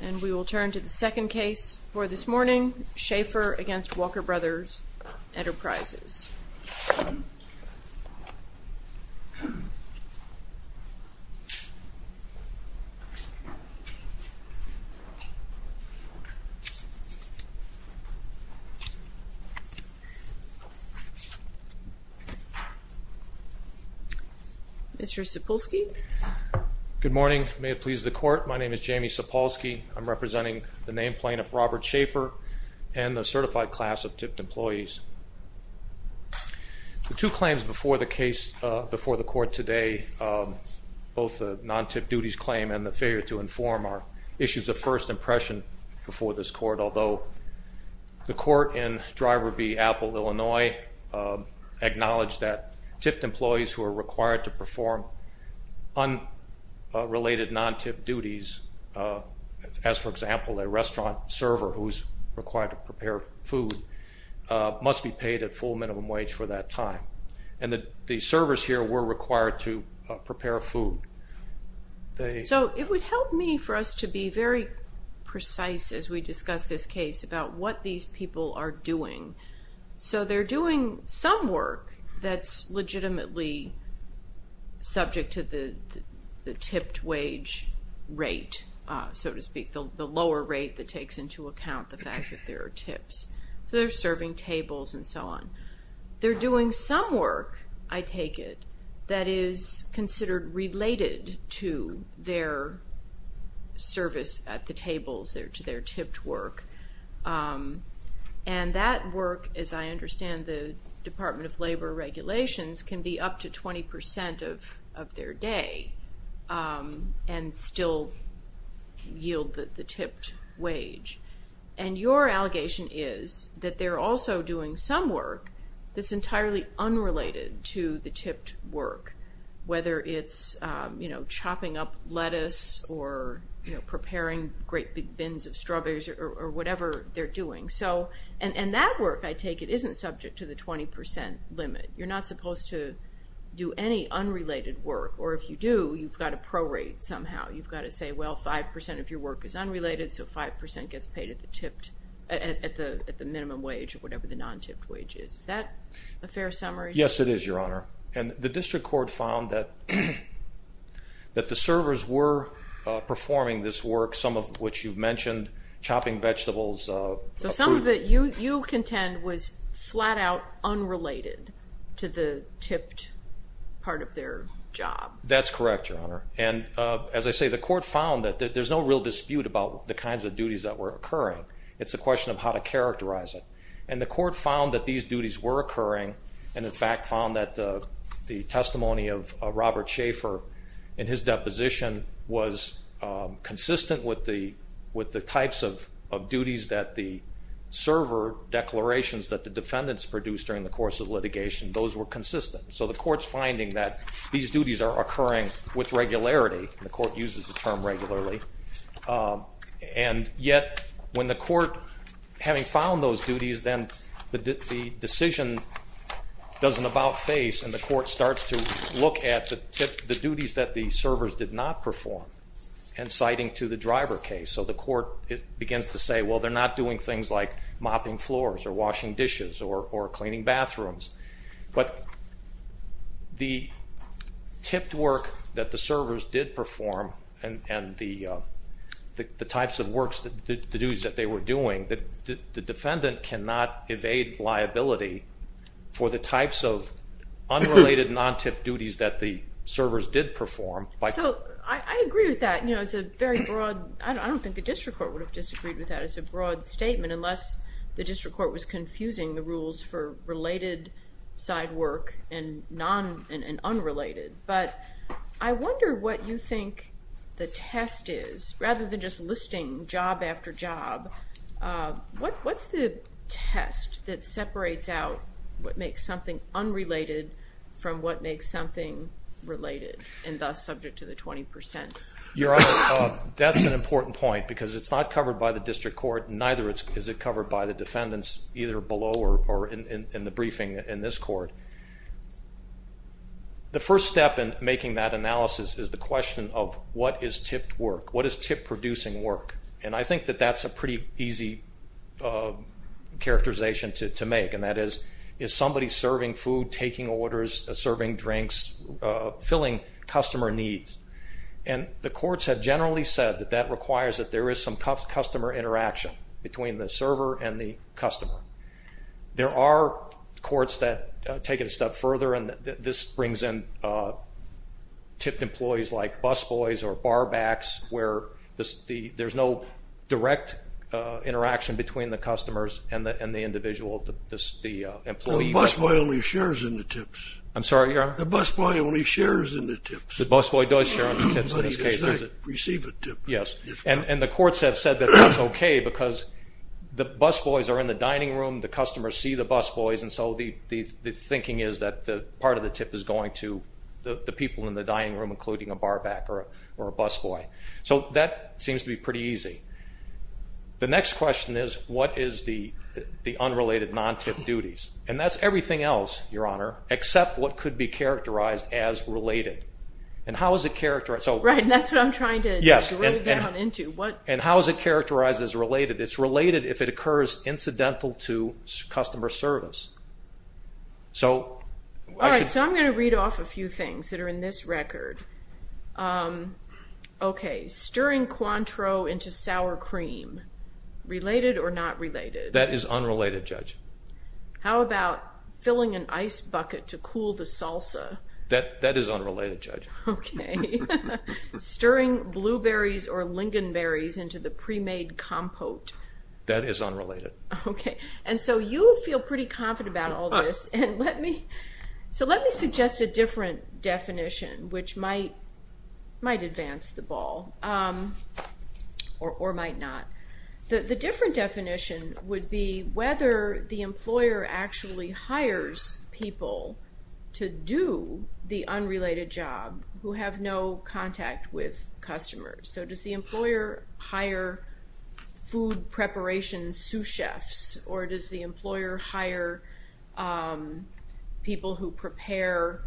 And we will turn to the second case for this morning, Schaefer v. Walker Bros. Enterprises. Mr. Sapolsky. Good morning. May it please the court, my name is Jamie Sapolsky. I'm representing the named plaintiff Robert Schaefer and the certified class of tipped employees. The two claims before the case, before the court today, both the non-tipped duties claim and the failure to inform are issues of first impression before this court. But although the court in Driver v. Apple, Illinois, acknowledged that tipped employees who are required to perform unrelated non-tipped duties, as for example a restaurant server who is required to prepare food, must be paid a full minimum wage for that time. And the servers here were required to prepare food. So it would help me for us to be very precise as we discuss this case about what these people are doing. So they're doing some work that's legitimately subject to the tipped wage rate, so to speak, the lower rate that takes into account the fact that there are tips. So they're serving tables and so on. They're doing some work, I take it, that is considered related to their service at the tables or to their tipped work. And that work, as I understand the Department of Labor regulations, can be up to 20% of their day and still yield the tipped wage. And your allegation is that they're also doing some work that's entirely unrelated to the tipped work. Whether it's chopping up lettuce or preparing great big bins of strawberries or whatever they're doing. And that work, I take it, isn't subject to the 20% limit. You're not supposed to do any unrelated work. Or if you do, you've got to prorate somehow. You've got to say, well, 5% of your work is unrelated, so 5% gets paid at the minimum wage or whatever the non-tipped wage is. Is that a fair summary? Yes, it is, Your Honor. And the district court found that the servers were performing this work, some of which you've mentioned, chopping vegetables. So some of it you contend was flat-out unrelated to the tipped part of their job. That's correct, Your Honor. And, as I say, the court found that there's no real dispute about the kinds of duties that were occurring. It's a question of how to characterize it. And the court found that these duties were occurring and, in fact, found that the testimony of Robert Schaeffer in his deposition was consistent with the types of duties that the server declarations that the defendants produced during the course of litigation, those were consistent. So the court's finding that these duties are occurring with regularity. The court uses the term regularly. And yet, when the court, having found those duties, then the decision does an about-face and the court starts to look at the duties that the servers did not perform and citing to the driver case. So the court begins to say, well, they're not doing things like mopping floors or washing dishes or cleaning bathrooms. But the tipped work that the servers did perform and the types of works, the duties that they were doing, the defendant cannot evade liability for the types of unrelated non-tipped duties that the servers did perform. So I agree with that. It's a very broad, I don't think the district court would have disagreed with that. It's a broad statement unless the district court was confusing the rules for related side work and unrelated. But I wonder what you think the test is. Rather than just listing job after job, what's the test that separates out what makes something unrelated from what makes something related and thus subject to the 20%? That's an important point because it's not covered by the district court, neither is it covered by the defendants either below or in the briefing in this court. The first step in making that analysis is the question of what is tipped work? What is tip-producing work? And I think that that's a pretty easy characterization to make, and that is, is somebody serving food, taking orders, serving drinks, filling customer needs? And the courts have generally said that that requires that there is some customer interaction between the server and the customer. There are courts that take it a step further, and this brings in tipped employees like Busboys or Barbacks, where there's no direct interaction between the customers and the individual, the employee. The Busboy only shares in the tips. I'm sorry, Your Honor? The Busboy only shares in the tips. The Busboy does share in the tips in this case. Does he receive a tip? Yes. And the courts have said that that's okay because the Busboys are in the dining room, the customers see the Busboys, and so the thinking is that part of the tip is going to the people in the dining room, including a Barback or a Busboy. So that seems to be pretty easy. The next question is what is the unrelated non-tip duties? And that's everything else, Your Honor, except what could be characterized as related. And how is it characterized? Right, and that's what I'm trying to drill down into. And how is it characterized as related? It's related if it occurs incidental to customer service. All right, so I'm going to read off a few things that are in this record. Okay, stirring Cointreau into sour cream, related or not related? That is unrelated, Judge. How about filling an ice bucket to cool the salsa? That is unrelated, Judge. Okay. Stirring blueberries or lingonberries into the pre-made compote? That is unrelated. Okay, and so you feel pretty confident about all this. So let me suggest a different definition, which might advance the ball or might not. The different definition would be whether the employer actually hires people to do the unrelated job who have no contact with customers. So does the employer hire food preparation sous chefs, or does the employer hire people who prepare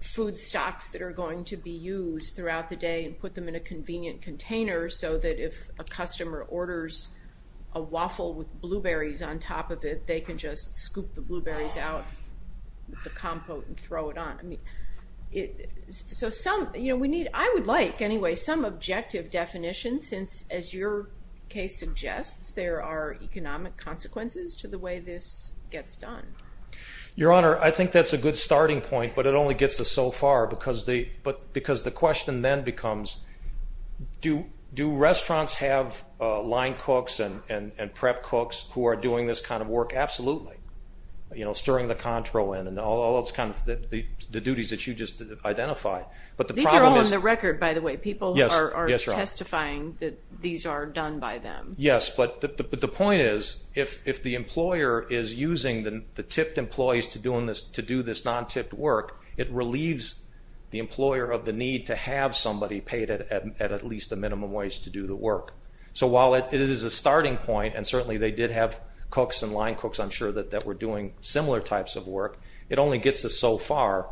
food stocks that are going to be used throughout the day and put them in a convenient container so that if a customer orders a waffle with blueberries on top of it, they can just scoop the blueberries out of the compote and throw it on? So I would like, anyway, some objective definition, since as your case suggests there are economic consequences to the way this gets done. Your Honor, I think that's a good starting point, but it only gets us so far because the question then becomes, do restaurants have line cooks and prep cooks who are doing this kind of work? Absolutely. Stirring the contral in and all those kinds of duties that you just identified. These are all on the record, by the way. People are testifying that these are done by them. Yes, but the point is if the employer is using the tipped employees to do this non-tipped work, it relieves the employer of the need to have somebody paid at least a minimum wage to do the work. So while it is a starting point, and certainly they did have cooks and line cooks, I'm sure, that were doing similar types of work, it only gets us so far.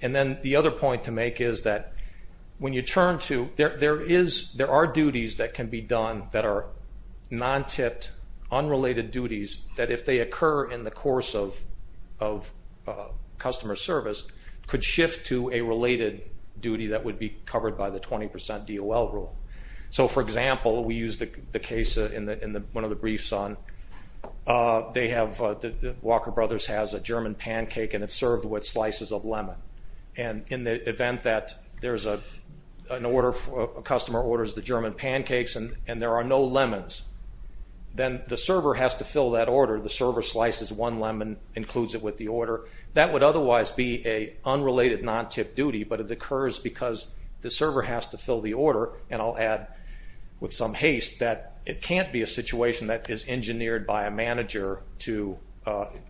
And then the other point to make is that when you turn to, there are duties that can be done that are non-tipped, unrelated duties, that if they occur in the course of customer service, could shift to a related duty that would be covered by the 20% DOL rule. So, for example, we used the case in one of the briefs on, Walker Brothers has a German pancake and it's served with slices of lemon. And in the event that a customer orders the German pancakes and there are no lemons, then the server has to fill that order. The server slices one lemon, includes it with the order. That would otherwise be an unrelated non-tipped duty, but it occurs because the server has to fill the order, and I'll add with some haste that it can't be a situation that is engineered by a manager to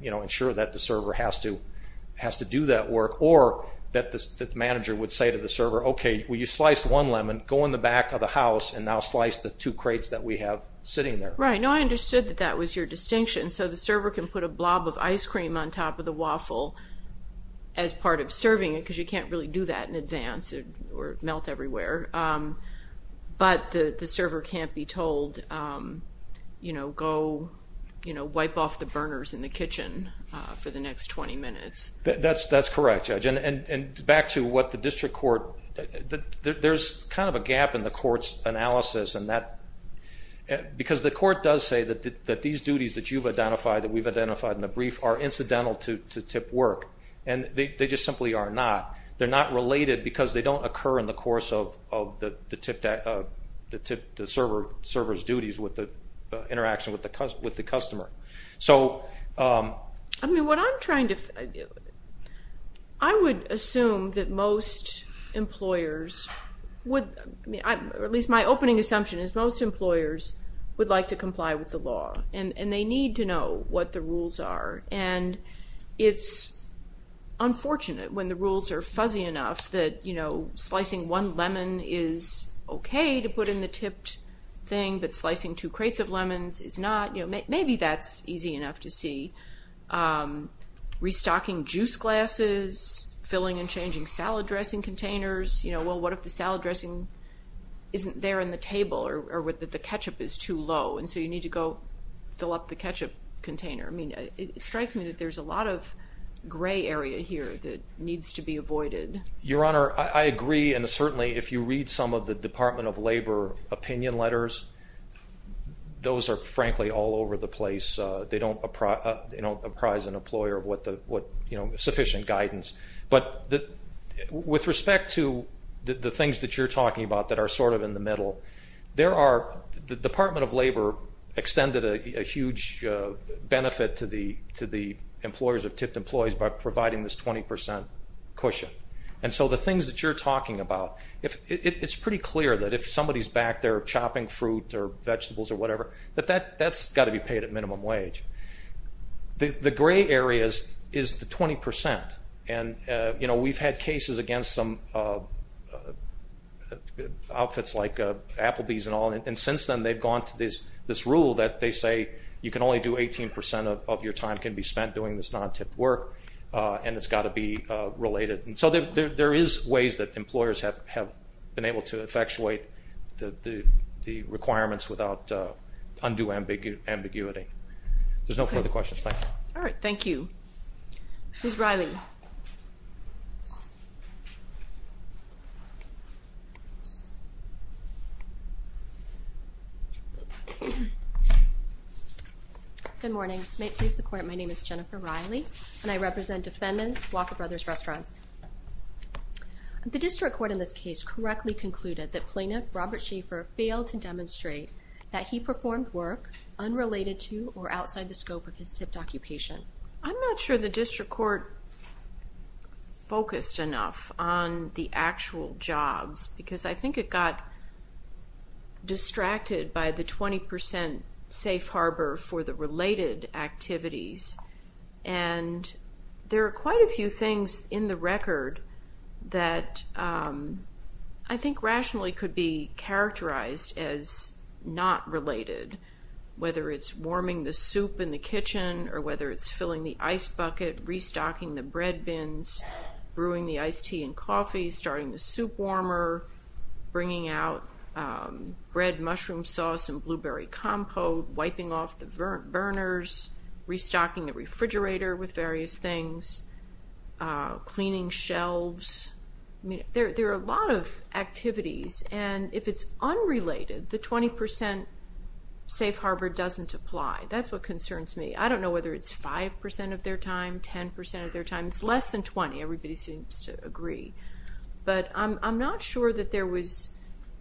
ensure that the server has to do that work. Or that the manager would say to the server, okay, well you sliced one lemon, go in the back of the house and now slice the two crates that we have sitting there. Right. No, I understood that that was your distinction. So the server can put a blob of ice cream on top of the waffle as part of serving it, because you can't really do that in advance or melt everywhere. But the server can't be told, you know, go wipe off the burners in the kitchen for the next 20 minutes. That's correct, Judge. And back to what the district court, there's kind of a gap in the court's analysis, because the court does say that these duties that you've identified, that we've identified in the brief, are incidental to tip work, and they just simply are not. They're not related because they don't occur in the course of the server's duties with the interaction with the customer. I mean, what I'm trying to, I would assume that most employers would, at least my opening assumption is most employers would like to comply with the law, and they need to know what the rules are. And it's unfortunate when the rules are fuzzy enough that, you know, slicing one lemon is okay to put in the tipped thing, but slicing two crates of lemons is not. Maybe that's easy enough to see. Restocking juice glasses, filling and changing salad dressing containers, you know, well, what if the salad dressing isn't there in the table or the ketchup is too low, and so you need to go fill up the ketchup container. I mean, it strikes me that there's a lot of gray area here that needs to be avoided. Your Honor, I agree, and certainly if you read some of the Department of Labor opinion letters, those are frankly all over the place. They don't apprise an employer of sufficient guidance. But with respect to the things that you're talking about that are sort of in the middle, the Department of Labor extended a huge benefit to the employers of tipped employees by providing this 20% cushion. And so the things that you're talking about, it's pretty clear that if somebody's back there chopping fruit or vegetables or whatever, that that's got to be paid at minimum wage. The gray areas is the 20%. And, you know, we've had cases against some outfits like Applebee's and all, and since then they've gone to this rule that they say you can only do 18% of your time can be spent doing this non-tipped work, and it's got to be related. And so there is ways that employers have been able to effectuate the requirements without undue ambiguity. There's no further questions. Thank you. All right. Thank you. Who's Riley? Good morning. May it please the Court, my name is Jennifer Riley, and I represent defendants, Walker Brothers Restaurants. The district court in this case correctly concluded that plaintiff Robert Schaefer failed to demonstrate that he performed work unrelated to or outside the scope of his tipped occupation. I'm not sure the district court focused enough on the actual jobs, because I think it got distracted by the 20% safe harbor for the related activities, and there are quite a few things in the record that I think rationally could be characterized as not related, whether it's warming the soup in the kitchen, or whether it's filling the ice bucket, restocking the bread bins, brewing the iced tea and coffee, starting the soup warmer, bringing out bread, mushroom sauce, and blueberry compote, wiping off the burners, restocking the refrigerator with various things, cleaning shelves. There are a lot of activities, and if it's unrelated, the 20% safe harbor doesn't apply. That's what concerns me. I don't know whether it's 5% of their time, 10% of their time. It's less than 20. Everybody seems to agree. But I'm not sure that there was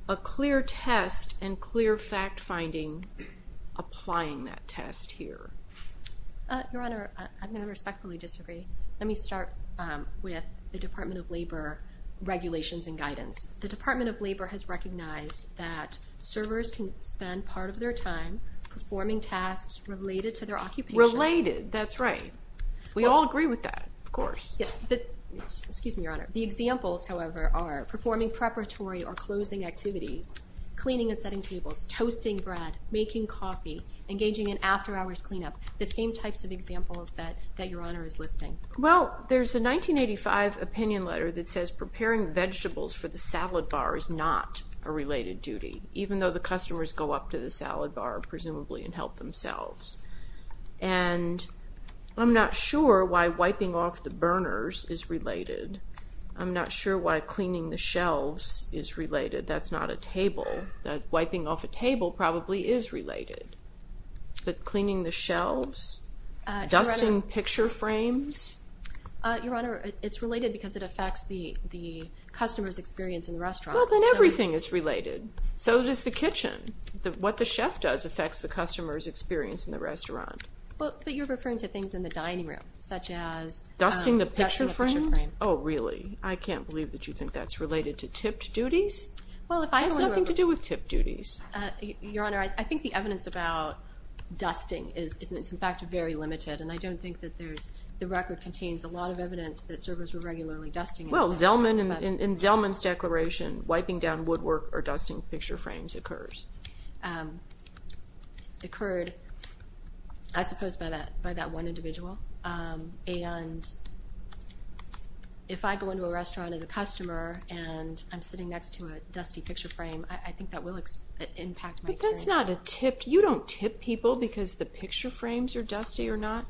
a clear test and clear fact-finding applying that test here. Your Honor, I'm going to respectfully disagree. Let me start with the Department of Labor regulations and guidance. The Department of Labor has recognized that servers can spend part of their time performing tasks related to their occupation. Related, that's right. We all agree with that, of course. Excuse me, Your Honor. The examples, however, are performing preparatory or closing activities, cleaning and setting tables, toasting bread, making coffee, engaging in after-hours cleanup, the same types of examples that Your Honor is listing. Well, there's a 1985 opinion letter that says preparing vegetables for the salad bar is not a related duty, even though the customers go up to the salad bar, presumably, and help themselves. And I'm not sure why wiping off the burners is related. I'm not sure why cleaning the shelves is related. That's not a table. Wiping off a table probably is related. But cleaning the shelves, dusting picture frames? Your Honor, it's related because it affects the customer's experience in the restaurant. Well, then everything is related. So does the kitchen. What the chef does affects the customer's experience in the restaurant. But you're referring to things in the dining room, such as dusting the picture frames. Dusting the picture frames? Oh, really? I can't believe that you think that's related to tipped duties. Well, if people in the room— It has nothing to do with tipped duties. Your Honor, I think the evidence about dusting is, in fact, very limited, and I don't think that there's—the record contains a lot of evidence that servers were regularly dusting. Well, in Zelman's declaration, wiping down woodwork or dusting picture frames occurs. Occurred, I suppose, by that one individual. And if I go into a restaurant as a customer and I'm sitting next to a dusty picture frame, I think that will impact my experience. But that's not a tip. You don't tip people because the picture frames are dusty or not.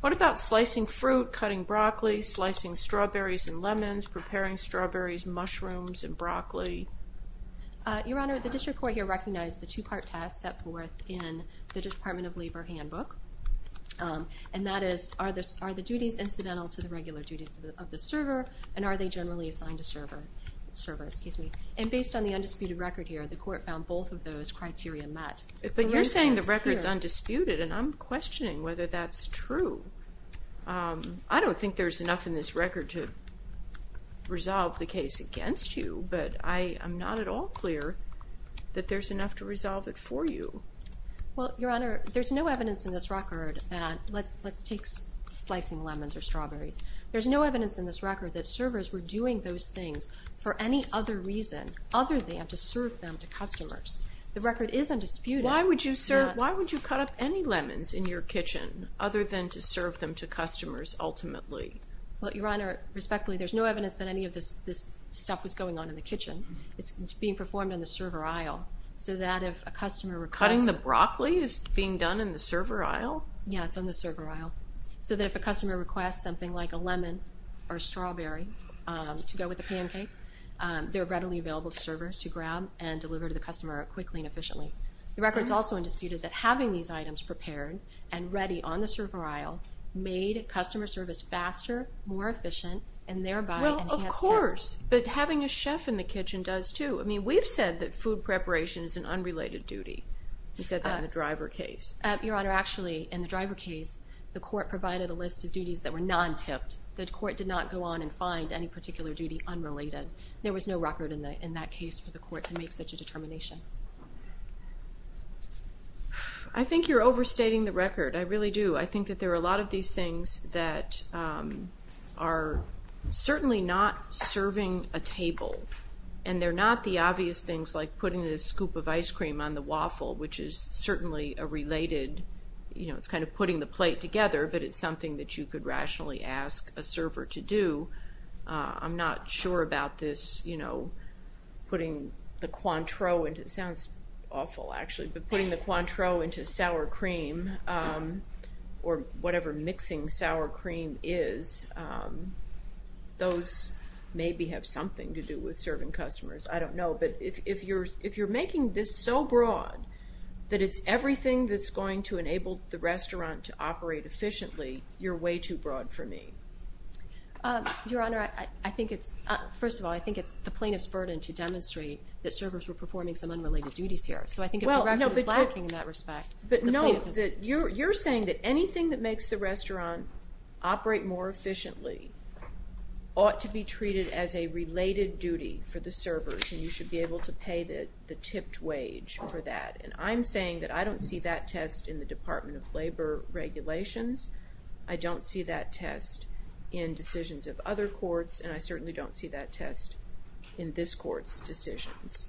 What about slicing fruit, cutting broccoli, slicing strawberries and lemons, preparing strawberries, mushrooms, and broccoli? Your Honor, the district court here recognized the two-part task set forth in the Department of Labor handbook, and that is, are the duties incidental to the regular duties of the server, and are they generally assigned to servers? And based on the undisputed record here, the court found both of those criteria met. But you're saying the record's undisputed, and I'm questioning whether that's true. I don't think there's enough in this record to resolve the case against you, but I'm not at all clear that there's enough to resolve it for you. Well, Your Honor, there's no evidence in this record that—let's take slicing lemons or strawberries. There's no evidence in this record that servers were doing those things for any other reason other than to serve them to customers. The record is undisputed. Why would you serve—why would you cut up any lemons in your kitchen other than to serve them to customers ultimately? Well, Your Honor, respectfully, there's no evidence that any of this stuff was going on in the kitchen. It's being performed on the server aisle so that if a customer requests— Cutting the broccoli is being done in the server aisle? Yeah, it's on the server aisle. So that if a customer requests something like a lemon or a strawberry to go with a pancake, they're readily available to servers to grab and deliver to the customer quickly and efficiently. The record's also undisputed that having these items prepared and ready on the server aisle made customer service faster, more efficient, and thereby enhanced service. Well, of course, but having a chef in the kitchen does, too. I mean, we've said that food preparation is an unrelated duty. You said that in the driver case. Your Honor, actually, in the driver case, the court provided a list of duties that were non-tipped. The court did not go on and find any particular duty unrelated. There was no record in that case for the court to make such a determination. I think you're overstating the record. I really do. I think that there are a lot of these things that are certainly not serving a table, and they're not the obvious things like putting the scoop of ice cream on the waffle, which is certainly a related—you know, it's kind of putting the plate together, but it's something that you could rationally ask a server to do. I'm not sure about this, you know, putting the Cointreau into—it sounds awful, actually, but putting the Cointreau into sour cream or whatever mixing sour cream is, those maybe have something to do with serving customers. I don't know. But if you're making this so broad that it's everything that's going to enable the restaurant to operate efficiently, you're way too broad for me. Your Honor, I think it's—first of all, I think it's the plaintiff's burden to demonstrate that servers were performing some unrelated duties here. So I think the record is lacking in that respect. But no, you're saying that anything that makes the restaurant operate more efficiently ought to be treated as a related duty for the servers, and you should be able to pay the tipped wage for that. And I'm saying that I don't see that test in the Department of Labor regulations. I don't see that test in decisions of other courts, and I certainly don't see that test in this Court's decisions.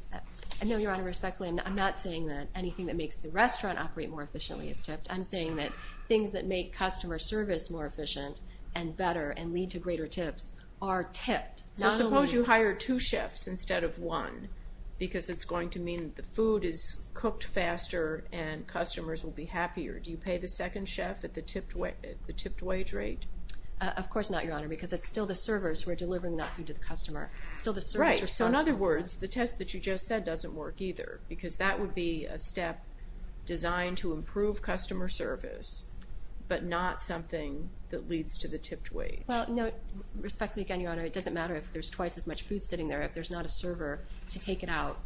No, Your Honor, respectfully, I'm not saying that anything that makes the restaurant operate more efficiently is tipped. I'm saying that things that make customer service more efficient and better and lead to greater tips are tipped. So suppose you hire two chefs instead of one because it's going to mean that the food is cooked faster and customers will be happier. Do you pay the second chef at the tipped wage rate? Of course not, Your Honor, because it's still the servers who are delivering that food to the customer. Right, so in other words, the test that you just said doesn't work either because that would be a step designed to improve customer service but not something that leads to the tipped wage. Respectfully, again, Your Honor, it doesn't matter if there's twice as much food sitting there. If there's not a server to take it out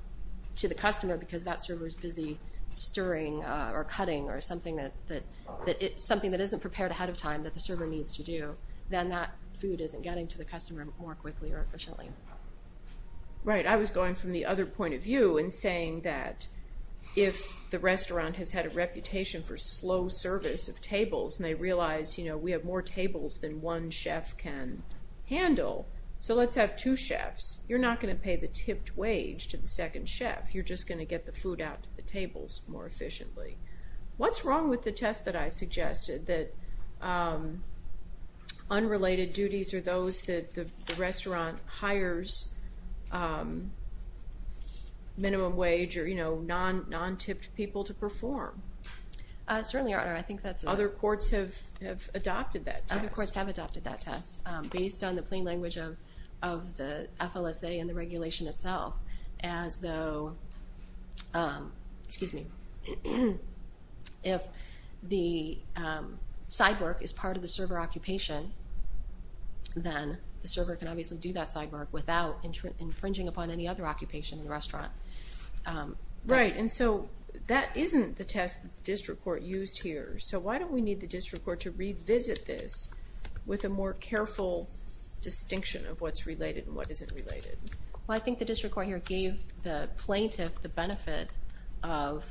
to the customer because that server is busy stirring or cutting or something that isn't prepared ahead of time that the server needs to do, then that food isn't getting to the customer more quickly or efficiently. Right, I was going from the other point of view and saying that if the restaurant has had a reputation for slow service of tables and they realize, you know, we have more tables than one chef can handle, so let's have two chefs. You're not going to pay the tipped wage to the second chef. You're just going to get the food out to the tables more efficiently. What's wrong with the test that I suggested that unrelated duties are those that the restaurant hires minimum wage or, you know, non-tipped people to perform? Certainly, Your Honor, I think that's... Other courts have adopted that test. Other courts have adopted that test based on the plain language of the FLSA and the regulation itself as though, excuse me, if the side work is part of the server occupation, then the server can obviously do that side work without infringing upon any other occupation in the restaurant. Right, and so that isn't the test the district court used here. So why don't we need the district court to revisit this with a more careful distinction of what's related and what isn't related? Well, I think the district court here gave the plaintiff the benefit of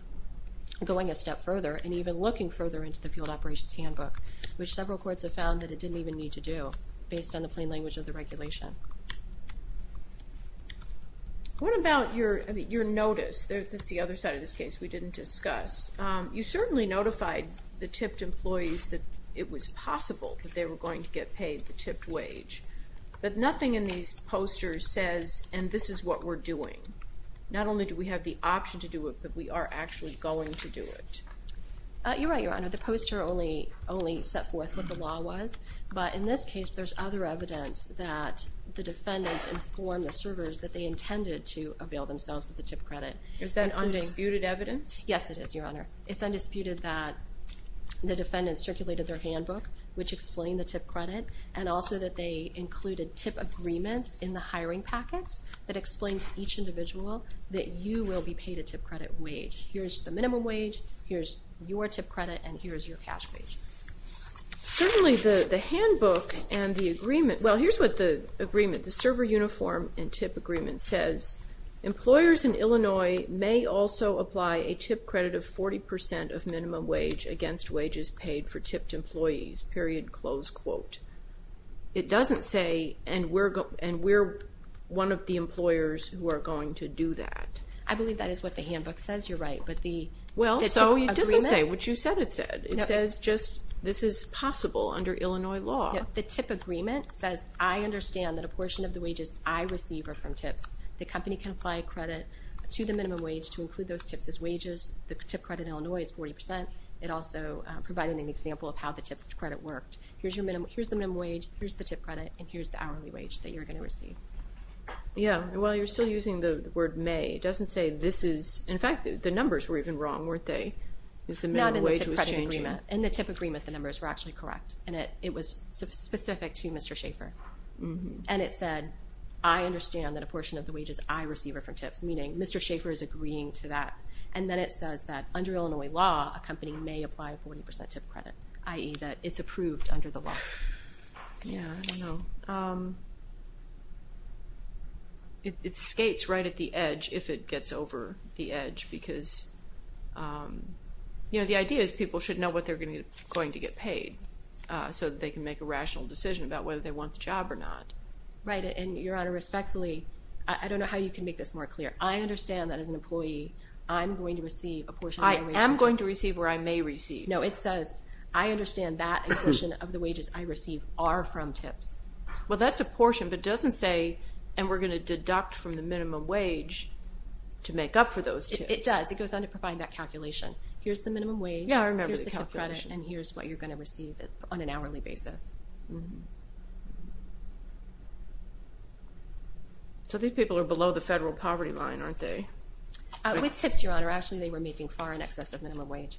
going a step further and even looking further into the field operations handbook, which several courts have found that it didn't even need to do based on the plain language of the regulation. What about your notice? That's the other side of this case we didn't discuss. You certainly notified the tipped employees that it was possible that they were going to get paid the tipped wage, but nothing in these posters says, and this is what we're doing. Not only do we have the option to do it, but we are actually going to do it. You're right, Your Honor. The poster only set forth what the law was, but in this case there's other evidence that the defendants informed the servers that they intended to avail themselves of the tipped credit. Is that undisputed evidence? Yes, it is, Your Honor. It's undisputed that the defendants circulated their handbook, which explained the tipped credit, and also that they included tip agreements in the hiring packets that explained to each individual that you will be paid a tipped credit wage. Here's the minimum wage, here's your tipped credit, and here's your cash wage. Certainly the handbook and the agreement, well, here's what the agreement, the server uniform and tip agreement says, Employers in Illinois may also apply a tipped credit of 40% of minimum wage against wages paid for tipped employees, period, close quote. It doesn't say, and we're one of the employers who are going to do that. I believe that is what the handbook says, you're right. Well, so it doesn't say what you said it said. It says just this is possible under Illinois law. The tip agreement says, I understand that a portion of the wages I receive are from tips. The company can apply credit to the minimum wage to include those tips as wages. The tipped credit in Illinois is 40%. It also provided an example of how the tipped credit worked. Here's the minimum wage, here's the tipped credit, and here's the hourly wage that you're going to receive. Yeah, well, you're still using the word may. It doesn't say this is, in fact, the numbers were even wrong, weren't they? Not in the tipped credit agreement. In the tipped credit agreement, the numbers were actually correct, and it was specific to Mr. Schaefer. And it said, I understand that a portion of the wages I receive are from tips, meaning Mr. Schaefer is agreeing to that. And then it says that under Illinois law, a company may apply 40% tipped credit, i.e. that it's approved under the law. Yeah, I don't know. It skates right at the edge if it gets over the edge because, you know, the idea is people should know what they're going to get paid so that they can make a rational decision about whether they want the job or not. Right, and, Your Honor, respectfully, I don't know how you can make this more clear. I understand that as an employee, I'm going to receive a portion of my wage. I am going to receive where I may receive. No, it says, I understand that a portion of the wages I receive are from tips. Well, that's a portion, but it doesn't say, and we're going to deduct from the minimum wage to make up for those tips. It does. It goes on to provide that calculation. Here's the minimum wage. Yeah, I remember the calculation. And here's what you're going to receive on an hourly basis. So these people are below the federal poverty line, aren't they? With tips, Your Honor, actually they were making far in excess of minimum wage.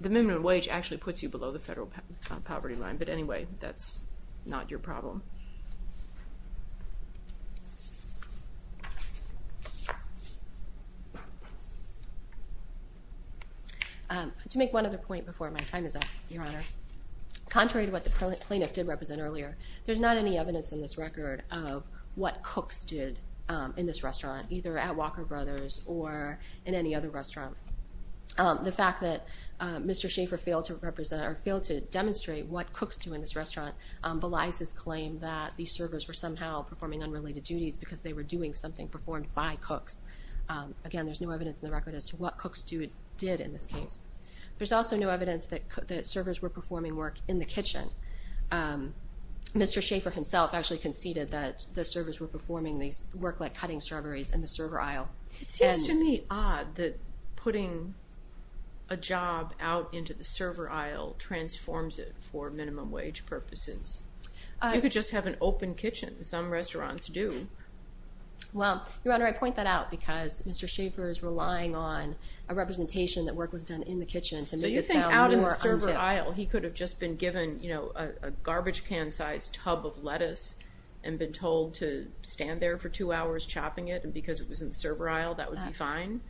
The minimum wage actually puts you below the federal poverty line, but anyway, that's not your problem. To make one other point before my time is up, Your Honor, contrary to what the plaintiff did represent earlier, there's not any evidence in this record of what cooks did in this restaurant, either at Walker Brothers or in any other restaurant. The fact that Mr. Schaefer failed to demonstrate what cooks do in this restaurant belies his claim that these servers were somehow performing unrelated duties because they were doing something performed by cooks. Again, there's no evidence in the record as to what cooks did in this case. There's also no evidence that servers were performing work in the kitchen. Mr. Schaefer himself actually conceded that the servers were performing work like cutting strawberries in the server aisle. It seems to me odd that putting a job out into the server aisle transforms it for minimum wage purposes. You could just have an open kitchen. Some restaurants do. Well, Your Honor, I point that out because Mr. Schaefer is relying on a representation that work was done in the kitchen to make it sound more untipped. So you think out in the server aisle he could have just been given a garbage can-sized tub of lettuce and been told to stand there for two hours chopping it, and because it was in the server aisle that would be fine?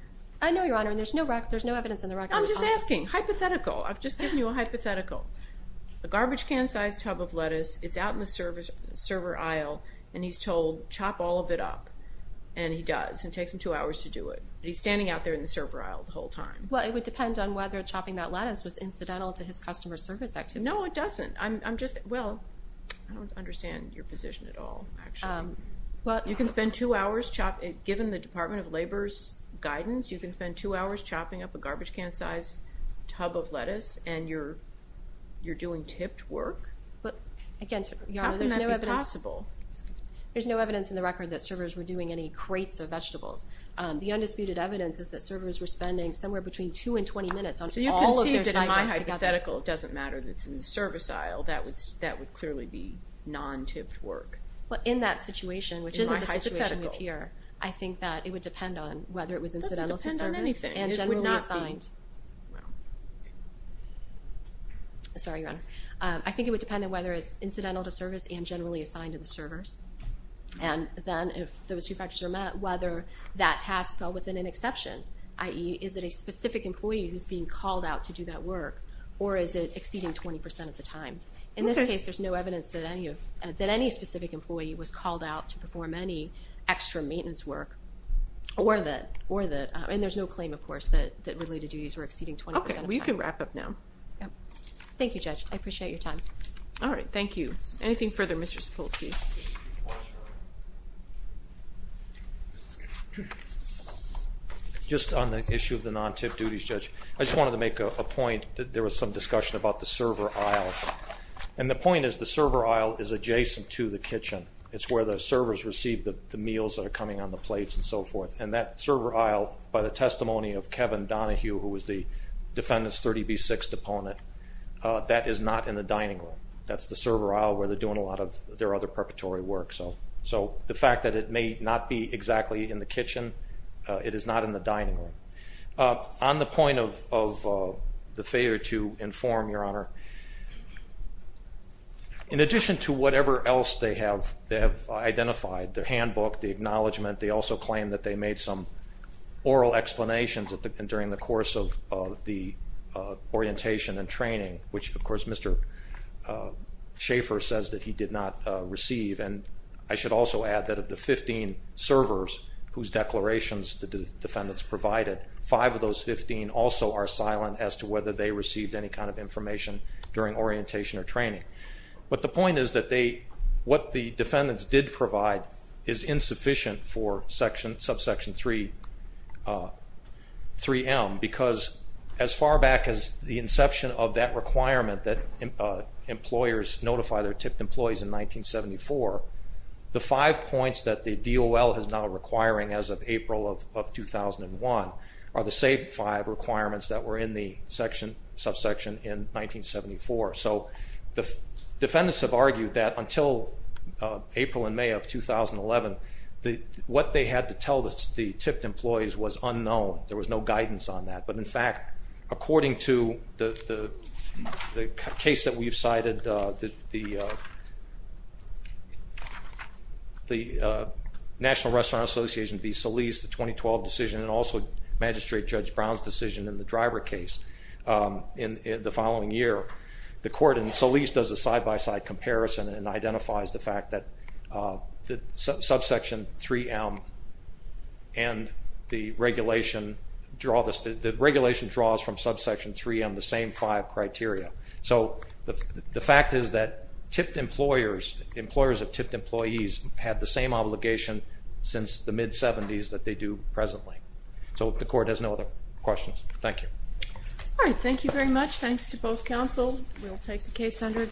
I know, Your Honor, and there's no evidence in the record. I'm just asking hypothetical. I've just given you a hypothetical. A garbage can-sized tub of lettuce, it's out in the server aisle, and he's told chop all of it up, and he does. It takes him two hours to do it. But he's standing out there in the server aisle the whole time. Well, it would depend on whether chopping that lettuce was incidental to his customer service activity. No, it doesn't. I'm just, well, I don't understand your position at all, actually. You can spend two hours chopping it. Given the Department of Labor's guidance, you can spend two hours chopping up a garbage can-sized tub of lettuce, and you're doing tipped work? Again, Your Honor, there's no evidence. How can that be possible? There's no evidence in the record that servers were doing any crates of vegetables. The undisputed evidence is that servers were spending somewhere between two and 20 minutes on all of their side work together. So you can see that in my hypothetical it doesn't matter that it's in the service aisle. That would clearly be non-tipped work. Well, in that situation, which isn't the situation we have here, I think that it would depend on whether it was incidental to service and generally assigned. It would not be. Sorry, Your Honor. I think it would depend on whether it's incidental to service and generally assigned to the servers. And then if those two factors are met, whether that task fell within an exception, i.e., is it a specific employee who's being called out to do that work, or is it exceeding 20% of the time? In this case, there's no evidence that any specific employee was called out to perform any extra maintenance work. And there's no claim, of course, that related duties were exceeding 20% of the time. Okay. Well, you can wrap up now. Thank you, Judge. I appreciate your time. All right. Thank you. Anything further, Mr. Sapolsky? Just on the issue of the non-tipped duties, Judge, I just wanted to make a point that there was some discussion about the server aisle. And the point is the server aisle is adjacent to the kitchen. It's where the servers receive the meals that are coming on the plates and so forth. And that server aisle, by the testimony of Kevin Donahue, who was the defendant's 30B6 deponent, that is not in the dining room. That's the server aisle where they're doing a lot of their other preparatory work. So the fact that it may not be exactly in the kitchen, it is not in the dining room. On the point of the failure to inform, Your Honor, in addition to whatever else they have identified, the handbook, the acknowledgement, they also claim that they made some oral explanations during the course of the orientation and training, which, of course, Mr. Schaffer says that he did not receive. And I should also add that of the 15 servers whose declarations the defendants provided, five of those 15 also are silent as to whether they received any kind of information during orientation or training. But the point is that what the defendants did provide is insufficient for subsection 3M because as far back as the inception of that requirement that employers notify their tipped employees in 1974, the five points that the DOL is now requiring as of April of 2001 are the same five requirements that were in the subsection in 1974. So the defendants have argued that until April and May of 2011, what they had to tell the tipped employees was unknown. There was no guidance on that. But, in fact, according to the case that we've cited, the National Restaurant Association v. Solis, the 2012 decision, and also Magistrate Judge Brown's decision in the driver case in the following year, the court in Solis does a side-by-side comparison and identifies the fact that subsection 3M and the regulation draws from subsection 3M the same five criteria. So the fact is that employers of tipped employees have the same obligation since the mid-70s that they do presently. So the court has no other questions. Thank you. All right. Thank you very much. Thanks to both counsel. We'll take the case under review.